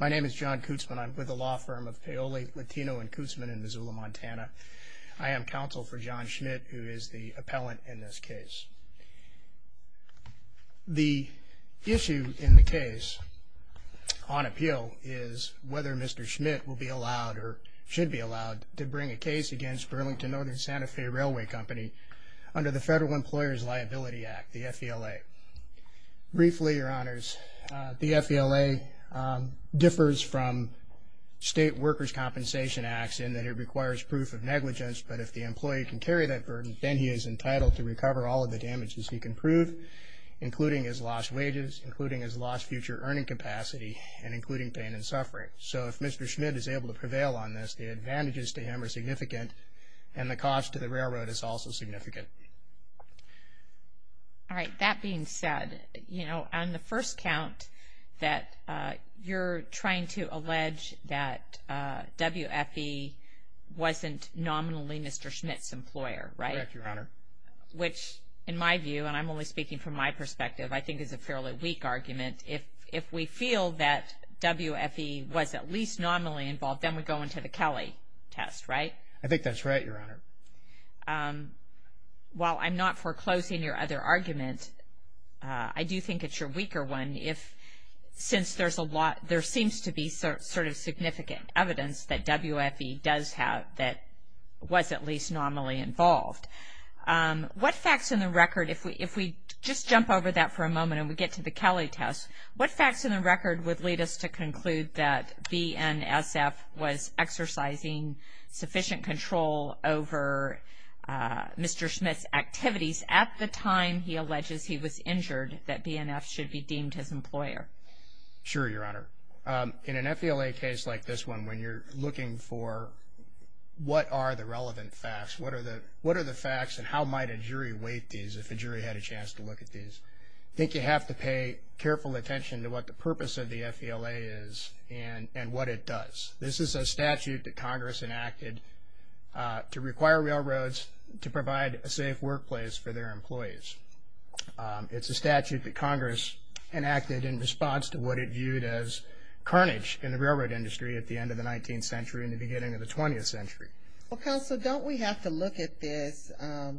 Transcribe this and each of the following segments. My name is John Kootsman. I'm with the law firm of Paoli Latino and Kootsman in Missoula, Montana. I am counsel for John Schmidt, who is the appellant in this case. The issue in the case on appeal is whether Mr. Schmidt will be allowed or should be allowed to bring a case against Burlington Northern Santa Fe Railway Company under the Federal Employers Liability Act, the FELA. Briefly, your honors, the FELA differs from state workers' compensation acts in that it requires proof of negligence, but if the employee can carry that burden, then he is entitled to recover all of the damages he can prove, including his lost wages, including his lost future earning capacity, and including pain and suffering. So if Mr. Schmidt is able to prevail on this, the advantages to him are significant, and the cost to the railroad is also significant. All right. That being said, you know, on the first count that you're trying to allege that WFE wasn't nominally Mr. Schmidt's employer, right? Correct, your honor. Which, in my view, and I'm only speaking from my perspective, I think is a fairly weak argument. If we feel that WFE was at least nominally involved, then we go into the Kelly test, right? I think that's right, your honor. While I'm not foreclosing your other argument, I do think it's your weaker one if, since there's a lot, there seems to be sort of significant evidence that WFE does have, that was at least nominally involved. What facts in the record, if we just jump over that for a moment and we get to the Kelly test, what facts in the record would lead us to conclude that BNSF was exercising sufficient control over Mr. Schmidt's activities at the time he alleges he was injured, that BNSF should be deemed his employer? Sure, your honor. In an FELA case like this one, when you're looking for what are the relevant facts, what are the facts and how might a jury weight these if a jury had a chance to look at these, I think you have to pay careful attention to what the purpose of the FELA is and what it does. This is a statute that Congress enacted to require railroads to provide a safe workplace for their employees. It's a statute that Congress enacted in response to what it viewed as carnage in the railroad industry at the end of the 19th century and the beginning of the 20th century. Well, counsel, don't we have to look at this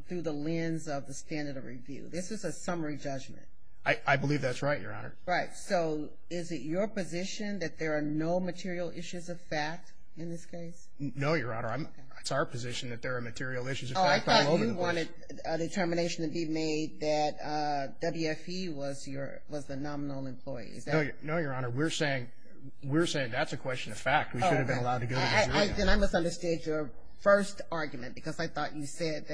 through the lens of the standard of review? This is a summary judgment. I believe that's right, your honor. So is it your position that there are no material issues of fact in this case? No, your honor. It's our position that there are material issues of fact. I thought you wanted a determination to be made that WFE was the nominal employee. No, your honor. We're saying that's a question of fact. We should have been allowed to go to the jury. I misunderstood your first argument because I thought you said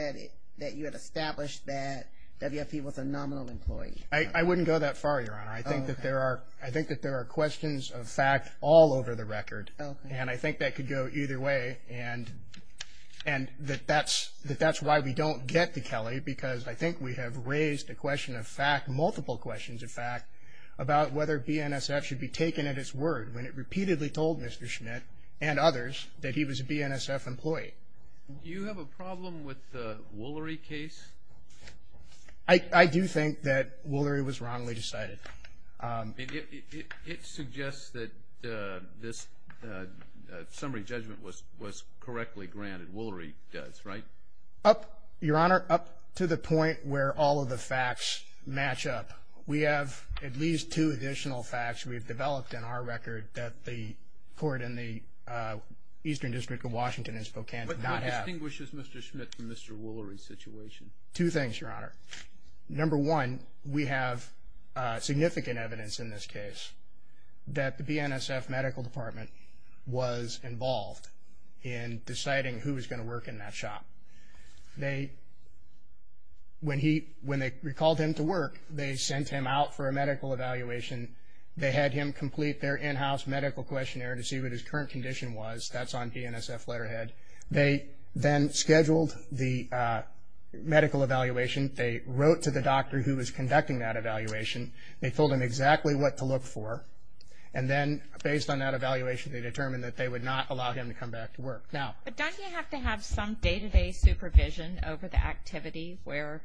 that you had established that WFE was a nominal employee. I wouldn't go that far, your honor. I think that there are questions of fact all over the record, and I think that could go either way. And that's why we don't get to Kelly because I think we have raised a question of fact, multiple questions of fact, about whether BNSF should be taken at its word when it repeatedly told Mr. Schmidt and others that he was a BNSF employee. Do you have a problem with the Woolery case? I do think that Woolery was wrongly decided. It suggests that this summary judgment was correctly granted. Woolery does, right? Up, your honor, up to the point where all of the facts match up. We have at least two additional facts we've developed in our record that the court in the Eastern District of Washington and Spokane did not have. What distinguishes Mr. Schmidt from Mr. Woolery's situation? Two things, your honor. Number one, we have significant evidence in this case that the BNSF medical department was involved in deciding who was going to work in that shop. They, when they recalled him to work, they sent him out for a medical evaluation. They had him complete their in-house medical questionnaire to see what his current condition was. That's on BNSF letterhead. They then scheduled the medical evaluation. They wrote to the doctor who was conducting that evaluation. They told him exactly what to look for. And then, based on that evaluation, they determined that they would not allow him to come back to work. Now. But don't you have to have some day-to-day supervision over the activity where,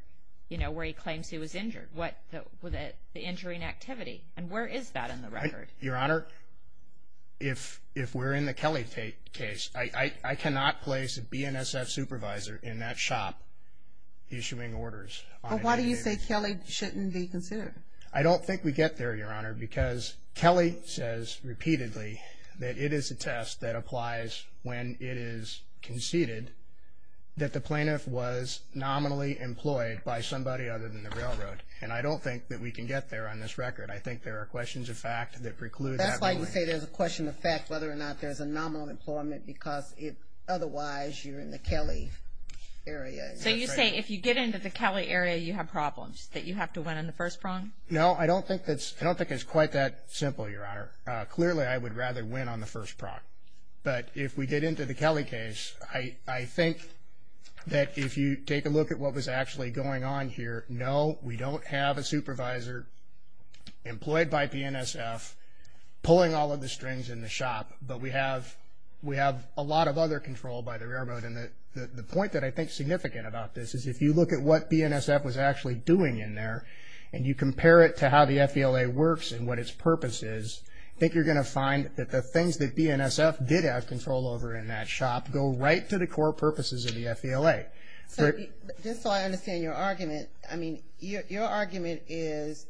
you know, where he claims he was injured? What, the injury and activity? And where is that in the record? Your honor, if we're in the Kelly case, I cannot place a BNSF supervisor in that shop issuing orders. But why do you say Kelly shouldn't be considered? I don't think we get there, your honor, because Kelly says repeatedly that it is a test that applies when it is conceded that the plaintiff was nominally employed by somebody other than the railroad. And I don't think that we can get there on this record. I think there are questions of fact that preclude. That's why you say there's a question of fact, whether or not there's a nominal employment, because if otherwise you're in the Kelly area. So you say if you get into the Kelly area, you have problems that you have to win on the first prong? No, I don't think it's quite that simple, your honor. Clearly, I would rather win on the first prong. But if we get into the Kelly case, I think that if you take a look at what was actually going on here, no, we don't have a supervisor employed by BNSF pulling all of the strings in the shop. But we have a lot of other control by the railroad. And the point that I think is significant about this is if you look at what BNSF was actually doing in there, and you compare it to how the FVLA works and what its purpose is, I think you're going to find that the things that BNSF did have control over in that shop go right to the core purposes of the FVLA. So just so I understand your argument, I mean, your argument is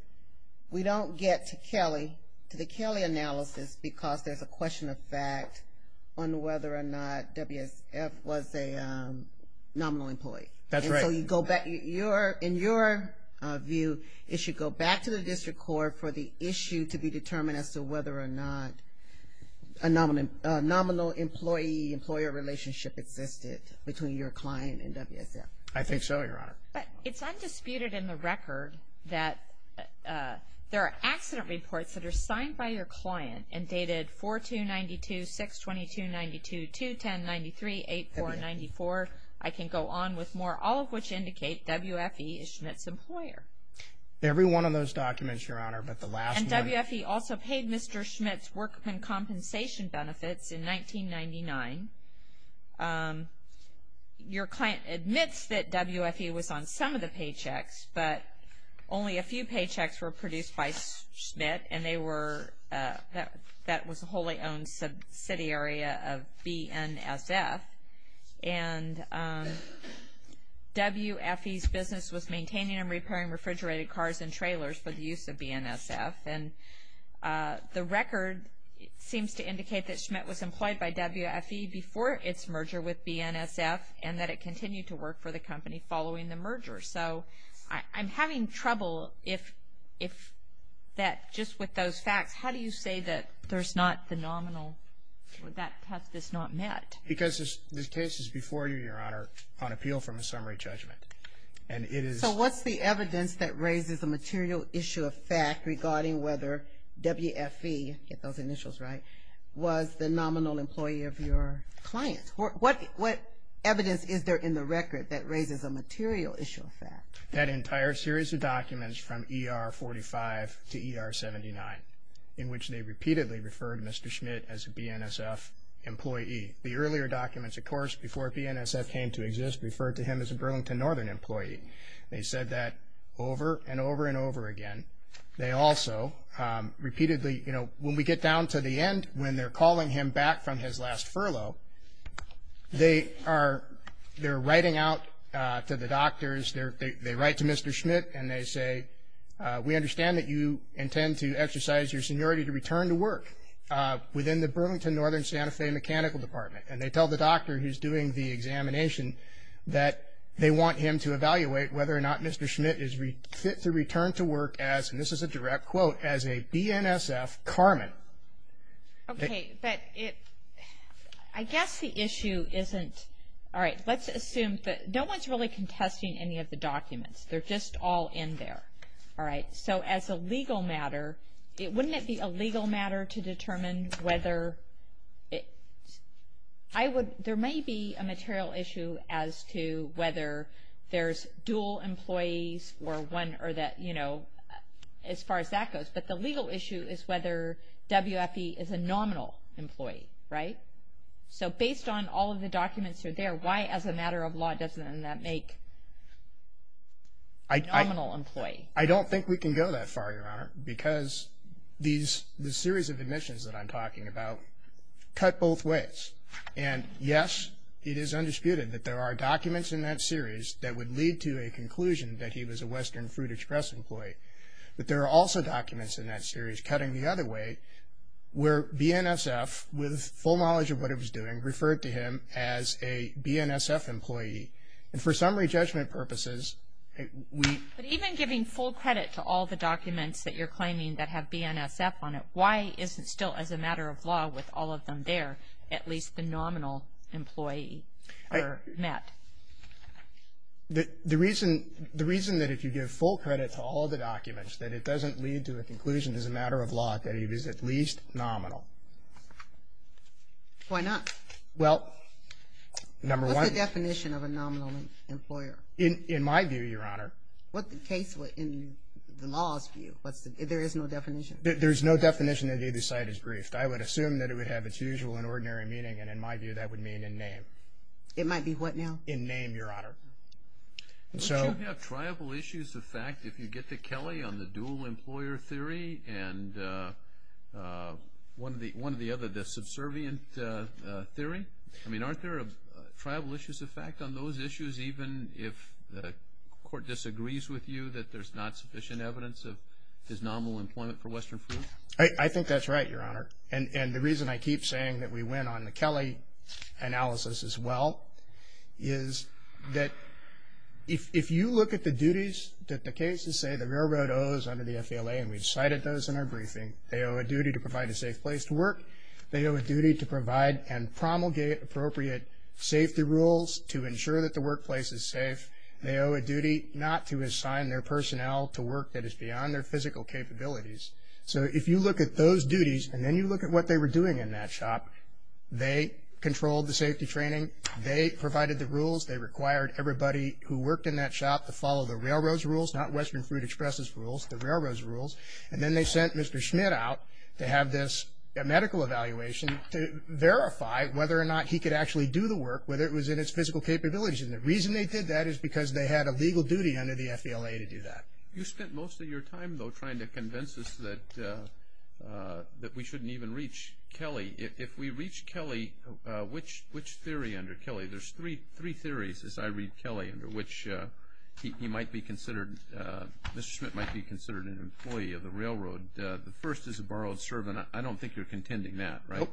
we don't get to Kelly, to the Kelly analysis because there's a question of fact on whether or not WSF was a nominal employee. That's right. So you go back, in your view, it should go back to the district court for the issue to be determined as to whether or not a nominal employee-employer relationship existed between your client and WSF. I think so, your honor. But it's undisputed in the record that there are accident reports that are signed by your client and dated 4-2-92-6-22-92-2-10-93-8-4-94. I can go on with more, all of which indicate WFE is Schmidt's employer. Every one of those documents, your honor, but the last one- And WFE also paid Mr. Schmidt's workman compensation benefits in 1999. Your client admits that WFE was on some of the paychecks, but only a few paychecks were produced by Schmidt, and they were, that was a wholly-owned subsidiary of BNSF, and WFE's business was maintaining and repairing refrigerated cars and trailers for the use of BNSF. And the record seems to indicate that Schmidt was employed by WFE in 1999. Before its merger with BNSF, and that it continued to work for the company following the merger. So I'm having trouble if that, just with those facts, how do you say that there's not the nominal, that test is not met? Because this case is before you, your honor, on appeal from a summary judgment. And it is- So what's the evidence that raises the material issue of fact regarding whether WFE, get those clients? What evidence is there in the record that raises a material issue of fact? That entire series of documents from ER45 to ER79, in which they repeatedly referred Mr. Schmidt as a BNSF employee. The earlier documents, of course, before BNSF came to exist, referred to him as a Burlington Northern employee. They said that over and over and over again. They also repeatedly, you know, when we get down to the end, when they're calling him back from his last furlough, they are, they're writing out to the doctors, they write to Mr. Schmidt and they say, we understand that you intend to exercise your seniority to return to work within the Burlington Northern Santa Fe Mechanical Department. And they tell the doctor who's doing the examination that they want him to evaluate whether or not Mr. Schmidt is fit to return to work as, and this is a direct quote, as a BNSF Carmen. Okay, but it, I guess the issue isn't, all right, let's assume that no one's really contesting any of the documents. They're just all in there. All right. So as a legal matter, it, wouldn't it be a legal matter to determine whether it, I would, there may be a material issue as to whether there's dual employees or one, or that, you know, the legal issue is whether WFE is a nominal employee, right? So based on all of the documents that are there, why as a matter of law doesn't that make a nominal employee? I don't think we can go that far, Your Honor, because these, the series of admissions that I'm talking about cut both ways. And yes, it is undisputed that there are documents in that series that would lead to a conclusion that he was a Western Fruit Express employee, but there are also documents in that series cutting the other way where BNSF, with full knowledge of what it was doing, referred to him as a BNSF employee. And for summary judgment purposes, we. But even giving full credit to all the documents that you're claiming that have BNSF on it, why is it still as a matter of law with all of them there, at least the nominal employee are met? The reason, the reason that if you give full credit to all of the documents, that it doesn't lead to a conclusion as a matter of law that he was at least nominal. Why not? Well, number one. What's the definition of a nominal employer? In my view, Your Honor. What the case would, in the law's view, what's the, there is no definition? There's no definition that either side is briefed. I would assume that it would have its usual and ordinary meaning, and in my view, that would mean in name. It might be what now? In name, Your Honor. Would you have triable issues of fact if you get to Kelly on the dual employer theory and one of the other, the subservient theory? I mean, aren't there triable issues of fact on those issues, even if the court disagrees with you that there's not sufficient evidence of his nominal employment for Western Fruit? I think that's right, Your Honor. And the reason I keep saying that we win on the Kelly analysis as well is that if you look at the duties that the cases say the railroad owes under the FALA, and we cited those in our briefing, they owe a duty to provide a safe place to work. They owe a duty to provide and promulgate appropriate safety rules to ensure that the workplace is safe. They owe a duty not to assign their personnel to work that is beyond their physical capabilities. So if you look at those duties and then you look at what they were doing in that shop, they controlled the safety training. They provided the rules. They required everybody who worked in that shop to follow the railroad's rules, not Western Fruit Express's rules, the railroad's rules. And then they sent Mr. Schmidt out to have this medical evaluation to verify whether or not he could actually do the work, whether it was in his physical capabilities. And the reason they did that is because they had a legal duty under the FALA to do that. You spent most of your time, though, trying to convince us that we shouldn't even reach Kelly. If we reach Kelly, which theory under Kelly? There's three theories as I read Kelly under which he might be considered, Mr. Schmidt might be considered an employee of the railroad. The first is a borrowed servant. I don't think you're contending that, right? Nope.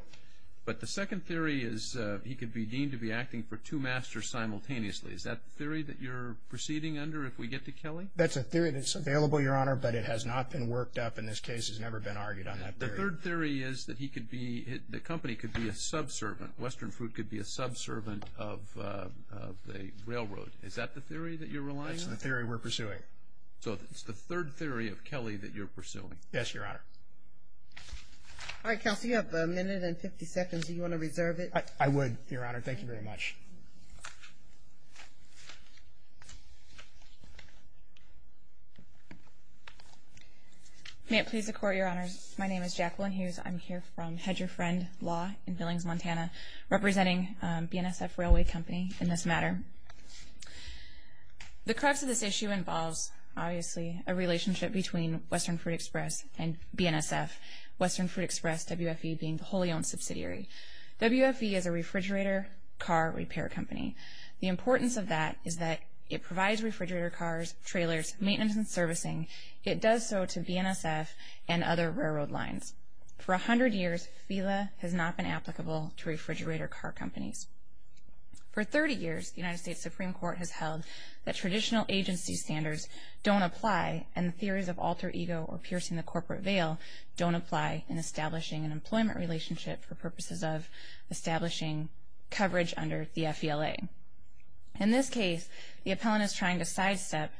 But the second theory is he could be deemed to be acting for two masters simultaneously. Is that the theory that you're proceeding under if we get to Kelly? That's a theory that's available, Your Honor, but it has not been worked up in this case. It's never been argued on that theory. The third theory is that he could be, the company could be a subservient. Western Fruit could be a subservient of the railroad. Is that the theory that you're relying on? That's the theory we're pursuing. So it's the third theory of Kelly that you're pursuing? Yes, Your Honor. All right, Kelsey, you have a minute and 50 seconds. Do you want to reserve it? I would, Your Honor. Thank you very much. May it please the Court, Your Honors. My name is Jacqueline Hughes. I'm here from Hedger Friend Law in Billings, Montana, representing BNSF Railway Company in this matter. The crux of this issue involves, obviously, a relationship between Western Fruit Express and BNSF, Western Fruit Express, WFE, being the wholly owned subsidiary. WFE is a refrigerator car repair company. The importance of that is that it provides refrigerator cars, trailers, maintenance and servicing. It does so to BNSF and other railroad lines. For 100 years, FILA has not been applicable to refrigerator car companies. For 30 years, the United States Supreme Court has held that traditional agency standards don't apply and theories of alter ego or piercing the corporate veil don't apply in establishing an employment relationship for purposes of In this case, the appellant is trying to sidestep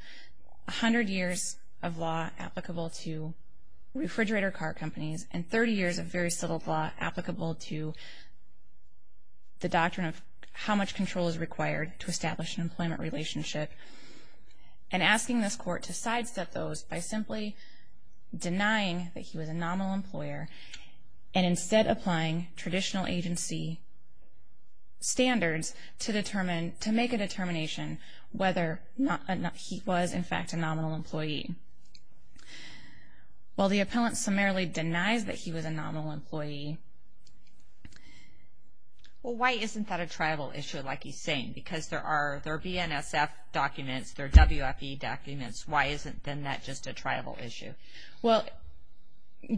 100 years of law applicable to refrigerator car companies and 30 years of very settled law applicable to the doctrine of how much control is required to establish an employment relationship and asking this Court to sidestep those by simply denying that he was a nominal employer and instead applying traditional agency standards to make a determination whether he was, in fact, a nominal employee. While the appellant summarily denies that he was a nominal employee. Well, why isn't that a tribal issue like he's saying? Because there are BNSF documents, there are WFE documents. Why isn't then that just a tribal issue? Well,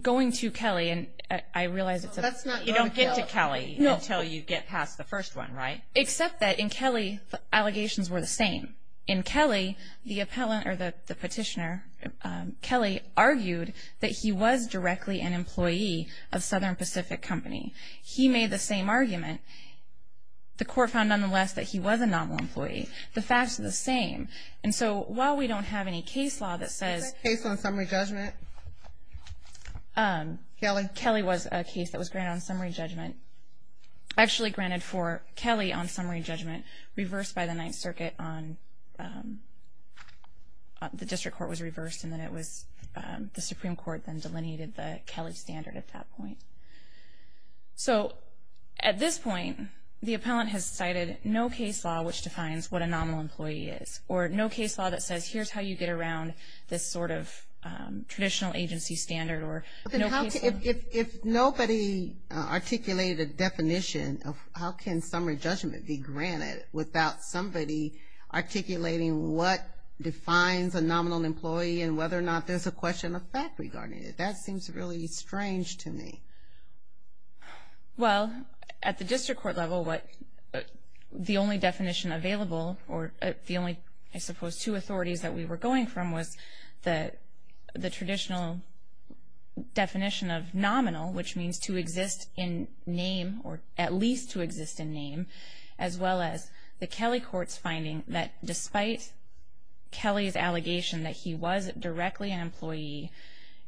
going to Kelly and I realize it's a That's not You don't get to Kelly until you get past the first one, right? Except that in Kelly, the allegations were the same. In Kelly, the appellant or the petitioner, Kelly argued that he was directly an employee of Southern Pacific Company. He made the same argument. The Court found nonetheless that he was a nominal employee. The facts are the same. And so while we don't have any case law that says Case on summary judgment. Kelly was a case that was granted on summary judgment. Actually granted for Kelly on summary judgment, reversed by the Ninth Circuit on The District Court was reversed and then it was the Supreme Court then delineated the Kelly standard at that point. So at this point, the appellant has cited no case law which defines what a nominal employee is. Or no case law that says here's how you get around this sort of traditional agency standard or If nobody articulated a definition of how can summary judgment be granted without somebody articulating what defines a nominal employee and whether or not there's a question of fact regarding it. That seems really strange to me. Well, at the District Court level, what the only definition available or the only, I suppose, two authorities that we were going from was the traditional definition of nominal, which means to exist in name or at least to exist in name, as well as the Kelly Court's finding that despite Kelly's allegation that he was directly an employee,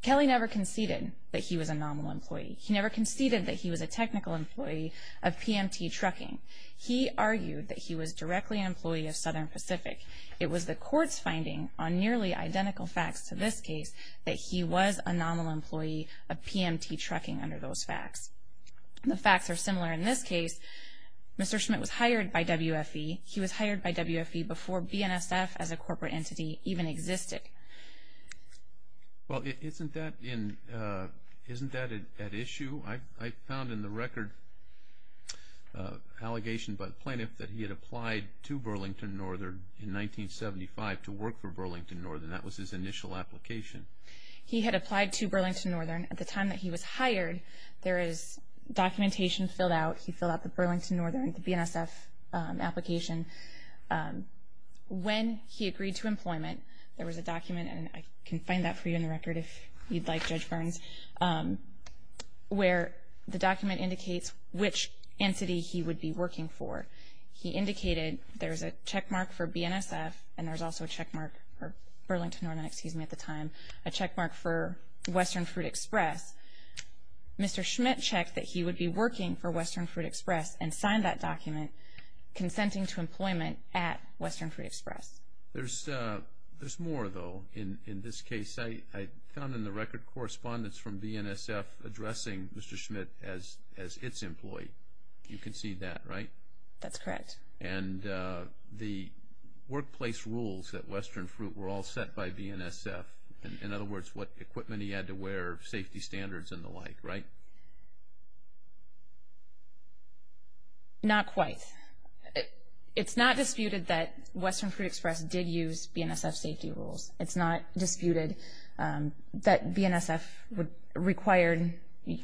Kelly never conceded that he was a nominal employee. He never conceded that he was a technical employee of PMT Trucking. He argued that he was directly an employee of Southern Pacific. It was the court's finding on nearly identical facts to this case that he was a nominal employee of PMT Trucking under those facts. The facts are similar in this case. Mr. Schmidt was hired by WFE. He was hired by WFE before BNSF as a corporate entity even existed. Well, isn't that at issue? I found in the record an allegation by the plaintiff that he had applied to Burlington Northern in 1975 to work for Burlington Northern. That was his initial application. He had applied to Burlington Northern at the time that he was hired. There is documentation filled out. He filled out the Burlington Northern, the BNSF application. When he agreed to employment, there was a document, and I can find that for you in the document, where the document indicates which entity he would be working for. He indicated there's a checkmark for BNSF, and there's also a checkmark for Burlington Northern, excuse me, at the time, a checkmark for Western Fruit Express. Mr. Schmidt checked that he would be working for Western Fruit Express and signed that document consenting to employment at Western Fruit Express. There's more, though, in this case. I found in the record correspondence from BNSF addressing Mr. Schmidt as its employee. You can see that, right? That's correct. The workplace rules at Western Fruit were all set by BNSF. In other words, what equipment he had to wear, safety standards, and the like, right? Not quite. It's not disputed that Western Fruit Express did use BNSF safety rules. It's not disputed that BNSF required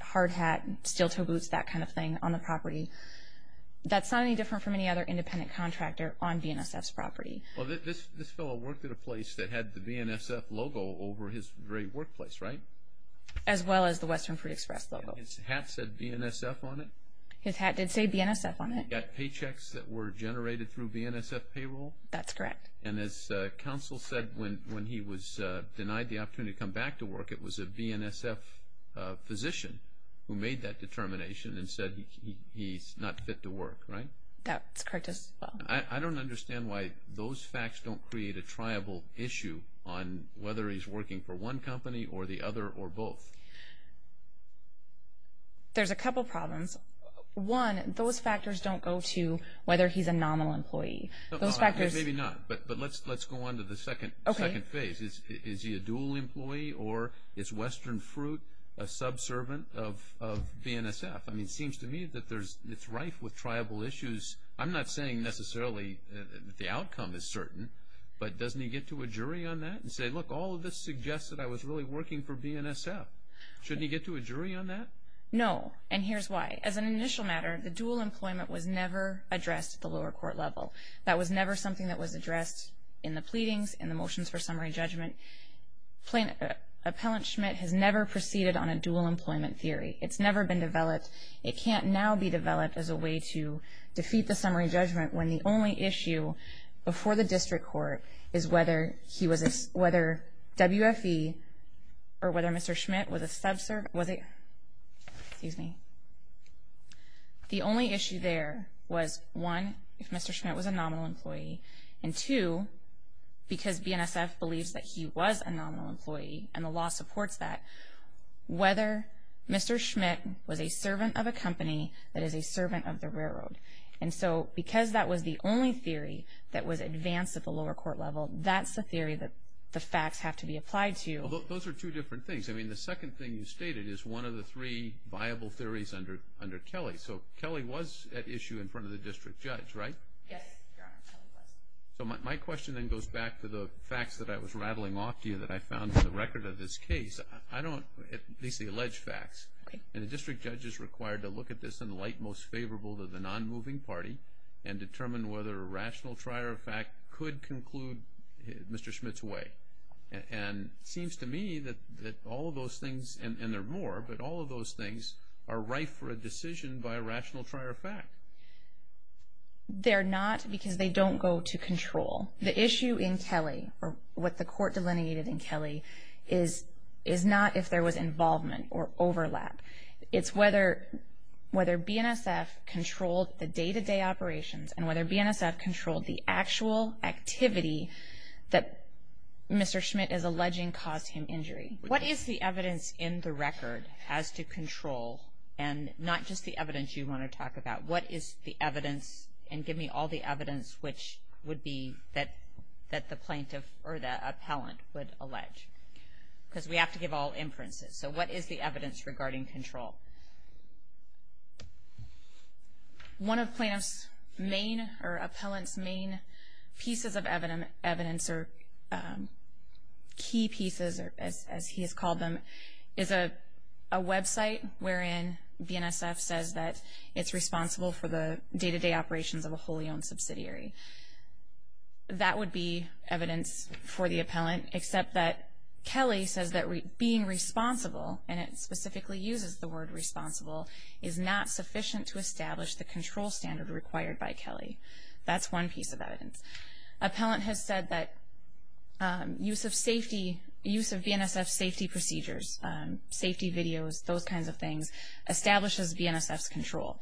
hard hat, steel-toe boots, that kind of thing, on the property. That's not any different from any other independent contractor on BNSF's property. Well, this fellow worked at a place that had the BNSF logo over his very workplace, right? As well as the Western Fruit Express logo. His hat said BNSF on it? His hat did say BNSF on it. He got paychecks that were generated through BNSF payroll? That's correct. And as counsel said when he was denied the opportunity to come back to work, it was a BNSF physician who made that determination and said he's not fit to work, right? That's correct as well. I don't understand why those facts don't create a triable issue on whether he's working for one company or the other or both. There's a couple problems. One, those factors don't go to whether he's a nominal employee. Those factors... But let's go on to the second phase. Is he a dual employee or is Western Fruit a subservient of BNSF? I mean, it seems to me that it's rife with triable issues. I'm not saying necessarily the outcome is certain, but doesn't he get to a jury on that and say, look, all of this suggests that I was really working for BNSF. Shouldn't he get to a jury on that? No. And here's why. As an initial matter, the dual employment was never addressed at the lower court level. That was never something that was addressed in the pleadings, in the motions for summary judgment. Appellant Schmidt has never proceeded on a dual employment theory. It's never been developed. It can't now be developed as a way to defeat the summary judgment when the only issue before the district court is whether he was a... Whether WFE or whether Mr. Schmidt was a subservient... Was he? Excuse me. The only issue there was, one, if Mr. Schmidt was a nominal employee, and two, because BNSF believes that he was a nominal employee and the law supports that, whether Mr. Schmidt was a servant of a company that is a servant of the railroad. And so because that was the only theory that was advanced at the lower court level, that's the theory that the facts have to be applied to. Those are two different things. The second thing you stated is one of the three viable theories under Kelly. So Kelly was at issue in front of the district judge, right? Yes, Your Honor, Kelly was. So my question then goes back to the facts that I was rattling off to you that I found in the record of this case. I don't... At least the alleged facts. And the district judge is required to look at this in the light most favorable to the non-moving party and determine whether a rational trier of fact could conclude Mr. Schmidt's way. And it seems to me that all of those things, and there are more, but all of those things are rife for a decision by a rational trier of fact. They're not because they don't go to control. The issue in Kelly, or what the court delineated in Kelly, is not if there was involvement or overlap. It's whether BNSF controlled the day-to-day operations and whether BNSF controlled the actual activity that Mr. Schmidt is alleging caused him injury. What is the evidence in the record as to control? And not just the evidence you want to talk about. What is the evidence, and give me all the evidence, which would be that the plaintiff or the appellant would allege? Because we have to give all inferences. So what is the evidence regarding control? One of plaintiff's main, or appellant's main pieces of evidence, or key pieces, as he has called them, is a website wherein BNSF says that it's responsible for the day-to-day operations of a wholly-owned subsidiary. That would be evidence for the appellant, except that Kelly says that being responsible, and it specifically uses the word responsible, is not sufficient to establish the control standard required by Kelly. That's one piece of evidence. Appellant has said that use of safety, use of BNSF safety procedures, safety videos, those kinds of things, establishes BNSF's control.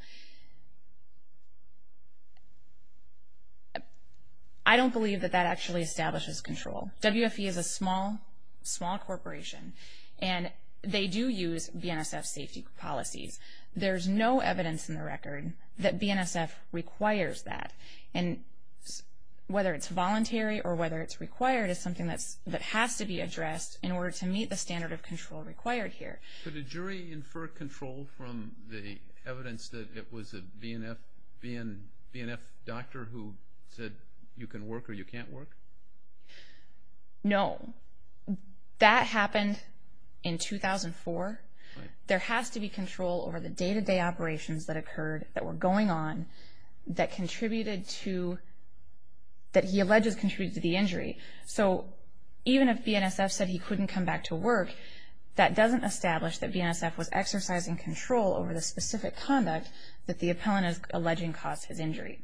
I don't believe that that actually establishes control. WFE is a small, small corporation, and they do use BNSF safety policies. There's no evidence in the record that BNSF requires that. And whether it's voluntary or whether it's required is something that has to be addressed in order to meet the standard of control required here. Could a jury infer control from the evidence that it was a BNF doctor who said you can work or you can't work? No. That happened in 2004. There has to be control over the day-to-day operations that occurred, that were going on, that contributed to, that he alleges contributed to the injury. So even if BNSF said he couldn't come back to work, that doesn't establish that BNSF was exercising control over the specific conduct that the appellant is alleging caused his injury.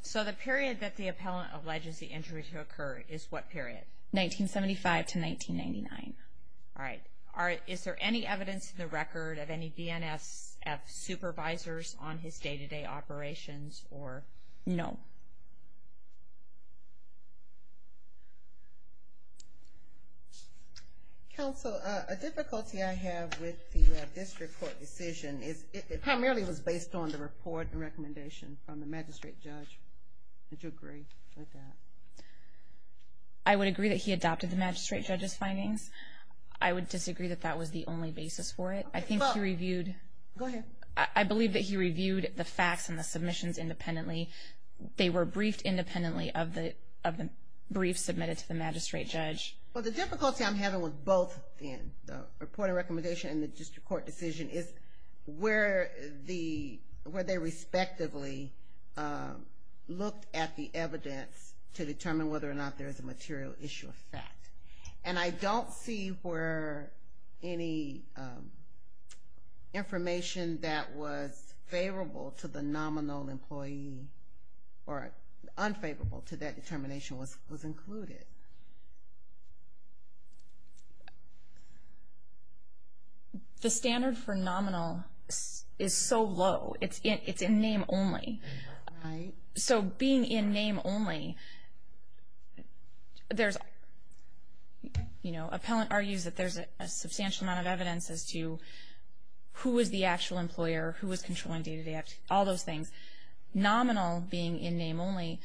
So the period that the appellant alleges the injury to occur is what period? 1975 to 1999. All right. Is there any evidence in the record of any BNSF supervisors on his day-to-day operations or? No. Counsel, a difficulty I have with the district court decision is it primarily was based on the report and recommendation from the magistrate judge. Would you agree with that? I would agree that he adopted the magistrate judge's findings. I would disagree that that was the only basis for it. I think he reviewed. I believe that he reviewed the facts and the submissions independently. They were briefed independently of the brief submitted to the magistrate judge. Well, the difficulty I'm having with both in the report and recommendation and the district court decision is where they respectively looked at the evidence to determine whether or not there is a material issue of fact. And I don't see where any information that was favorable to the nominal employee or unfavorable to that determination was included. The standard for nominal is so low. It's in name only. Right. So being in name only, there's, you know, appellant argues that there's a substantial amount of evidence as to who is the actual employer, who is controlling day-to-day, all those things. Nominal being in name only,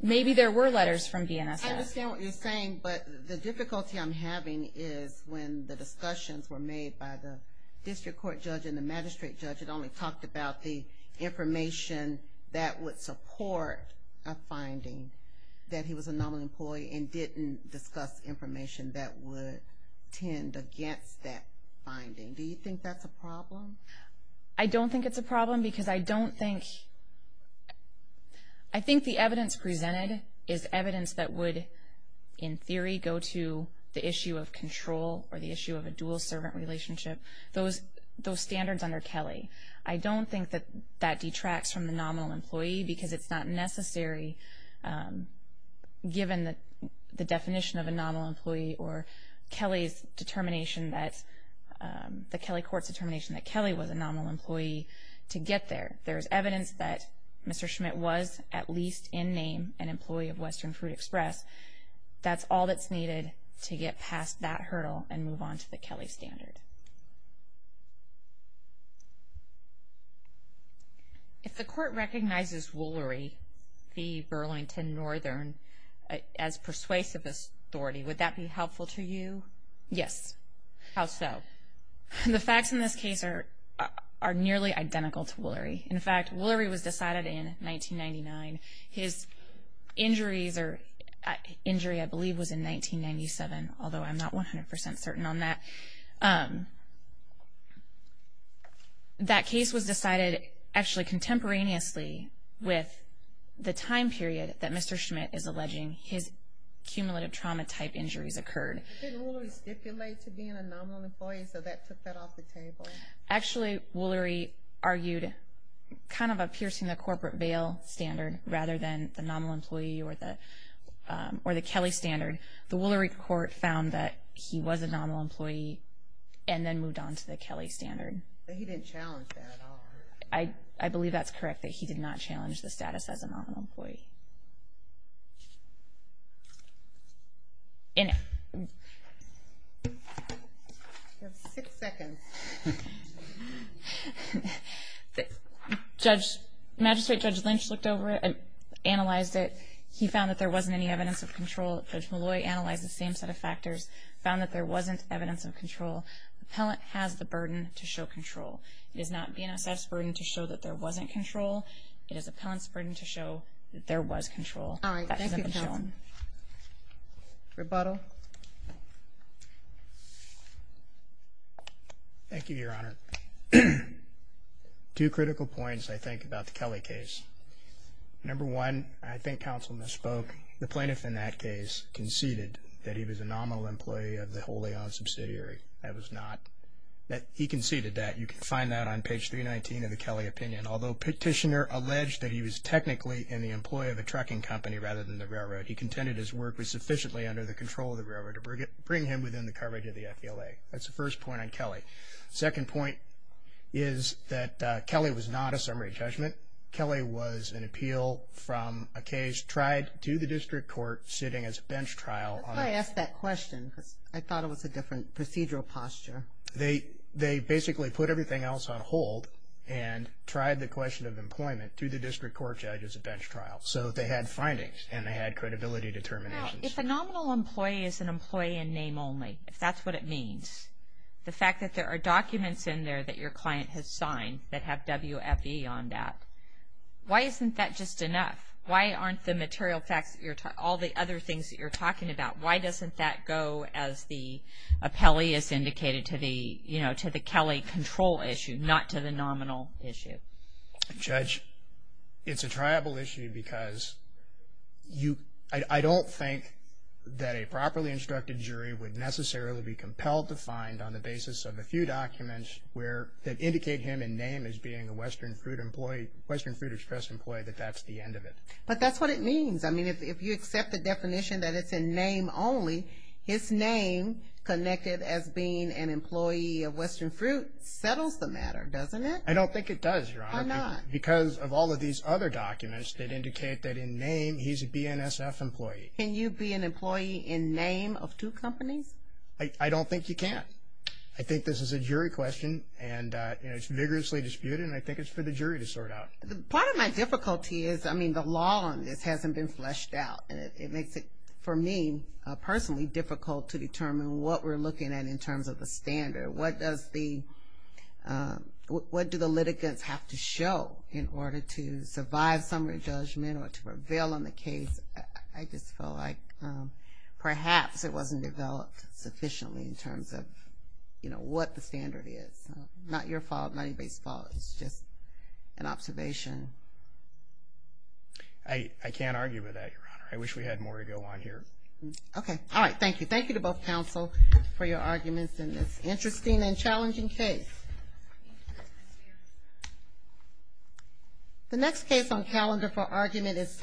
maybe there were letters from DNSS. I understand what you're saying, but the difficulty I'm having is when the discussions were made by the district court judge and the magistrate judge that only talked about the information that would support a finding that he was a nominal employee and didn't discuss information that would tend against that finding. Do you think that's a problem? I don't think it's a problem because I don't think... I think the evidence presented is evidence that would, in theory, go to the issue of control or the issue of a dual servant relationship, those standards under Kelly. I don't think that detracts from the nominal employee because it's not necessary, given the definition of a nominal employee or Kelly's determination that, the Kelly court's determination that Kelly was a nominal employee to get there. There's evidence that Mr. Schmidt was at least in name an employee of Western Fruit Express. That's all that's needed to get past that hurdle and move on to the Kelly standard. If the court recognizes Woolery, the Burlington Northern, as persuasive authority, would that be helpful to you? Yes. How so? The facts in this case are nearly identical to Woolery. In fact, Woolery was decided in 1999. His injuries are... Injury, I believe, was in 1997, although I'm not 100% certain on that. Um, that case was decided actually contemporaneously with the time period that Mr. Schmidt is alleging his cumulative trauma type injuries occurred. Didn't Woolery stipulate to being a nominal employee, so that took that off the table? Actually, Woolery argued kind of a piercing the corporate bail standard rather than the nominal employee or the Kelly standard. The Woolery court found that he was a nominal employee and then moved on to the Kelly standard. But he didn't challenge that at all. I believe that's correct, that he did not challenge the status as a nominal employee. And... You have six seconds. Judge, Magistrate Judge Lynch looked over it and analyzed it. He found that there wasn't any evidence of control Judge Malloy analyzed the same set of factors, found that there wasn't evidence of control. Appellant has the burden to show control. It is not BNSF's burden to show that there wasn't control. It is appellant's burden to show that there was control. All right, thank you, counsel. Rebuttal. Thank you, Your Honor. Two critical points, I think, about the Kelly case. Number one, I think counsel misspoke. The plaintiff in that case conceded that he was a nominal employee of the Holy On subsidiary. That was not... He conceded that. You can find that on page 319 of the Kelly opinion. Although Petitioner alleged that he was technically in the employee of a trucking company rather than the railroad, he contended his work was sufficiently under the control of the railroad to bring him within the coverage of the FDLA. That's the first point on Kelly. Second point is that Kelly was not a summary judgment. Kelly was an appeal from a case tried to the district court sitting as a bench trial on... That's why I asked that question because I thought it was a different procedural posture. They basically put everything else on hold and tried the question of employment to the district court judge as a bench trial. So they had findings and they had credibility determinations. If a nominal employee is an employee in name only, if that's what it means, the fact that there are documents in there that your client has signed that have WFE on that, why isn't that just enough? Why aren't the material facts, all the other things that you're talking about, why doesn't that go as the appellee is indicated to the Kelly control issue, not to the nominal issue? Judge, it's a triable issue because I don't think that a properly instructed jury would necessarily be compelled to find on the basis of a few documents that indicate him in name as being a Western Fruit employee, Western Fruit Express employee, that that's the end of it. But that's what it means. I mean, if you accept the definition that it's in name only, his name connected as being an employee of Western Fruit settles the matter, doesn't it? I don't think it does, Your Honor. Why not? Because of all of these other documents that indicate that in name, he's a BNSF employee. Can you be an employee in name of two companies? I don't think you can. I think this is a jury question, and it's vigorously disputed, and I think it's for the jury to sort out. Part of my difficulty is, I mean, the law on this hasn't been fleshed out, and it makes it, for me personally, difficult to determine what we're looking at in terms of the standard. What do the litigants have to show in order to survive summary judgment or to prevail on the case? I just felt like perhaps it wasn't developed sufficiently in terms of what the standard is. Not your fault, not anybody's fault. It's just an observation. I can't argue with that, Your Honor. I wish we had more to go on here. Okay. All right. Thank you. Thank you to both counsel for your arguments in this interesting and challenging case. The next case on calendar for argument is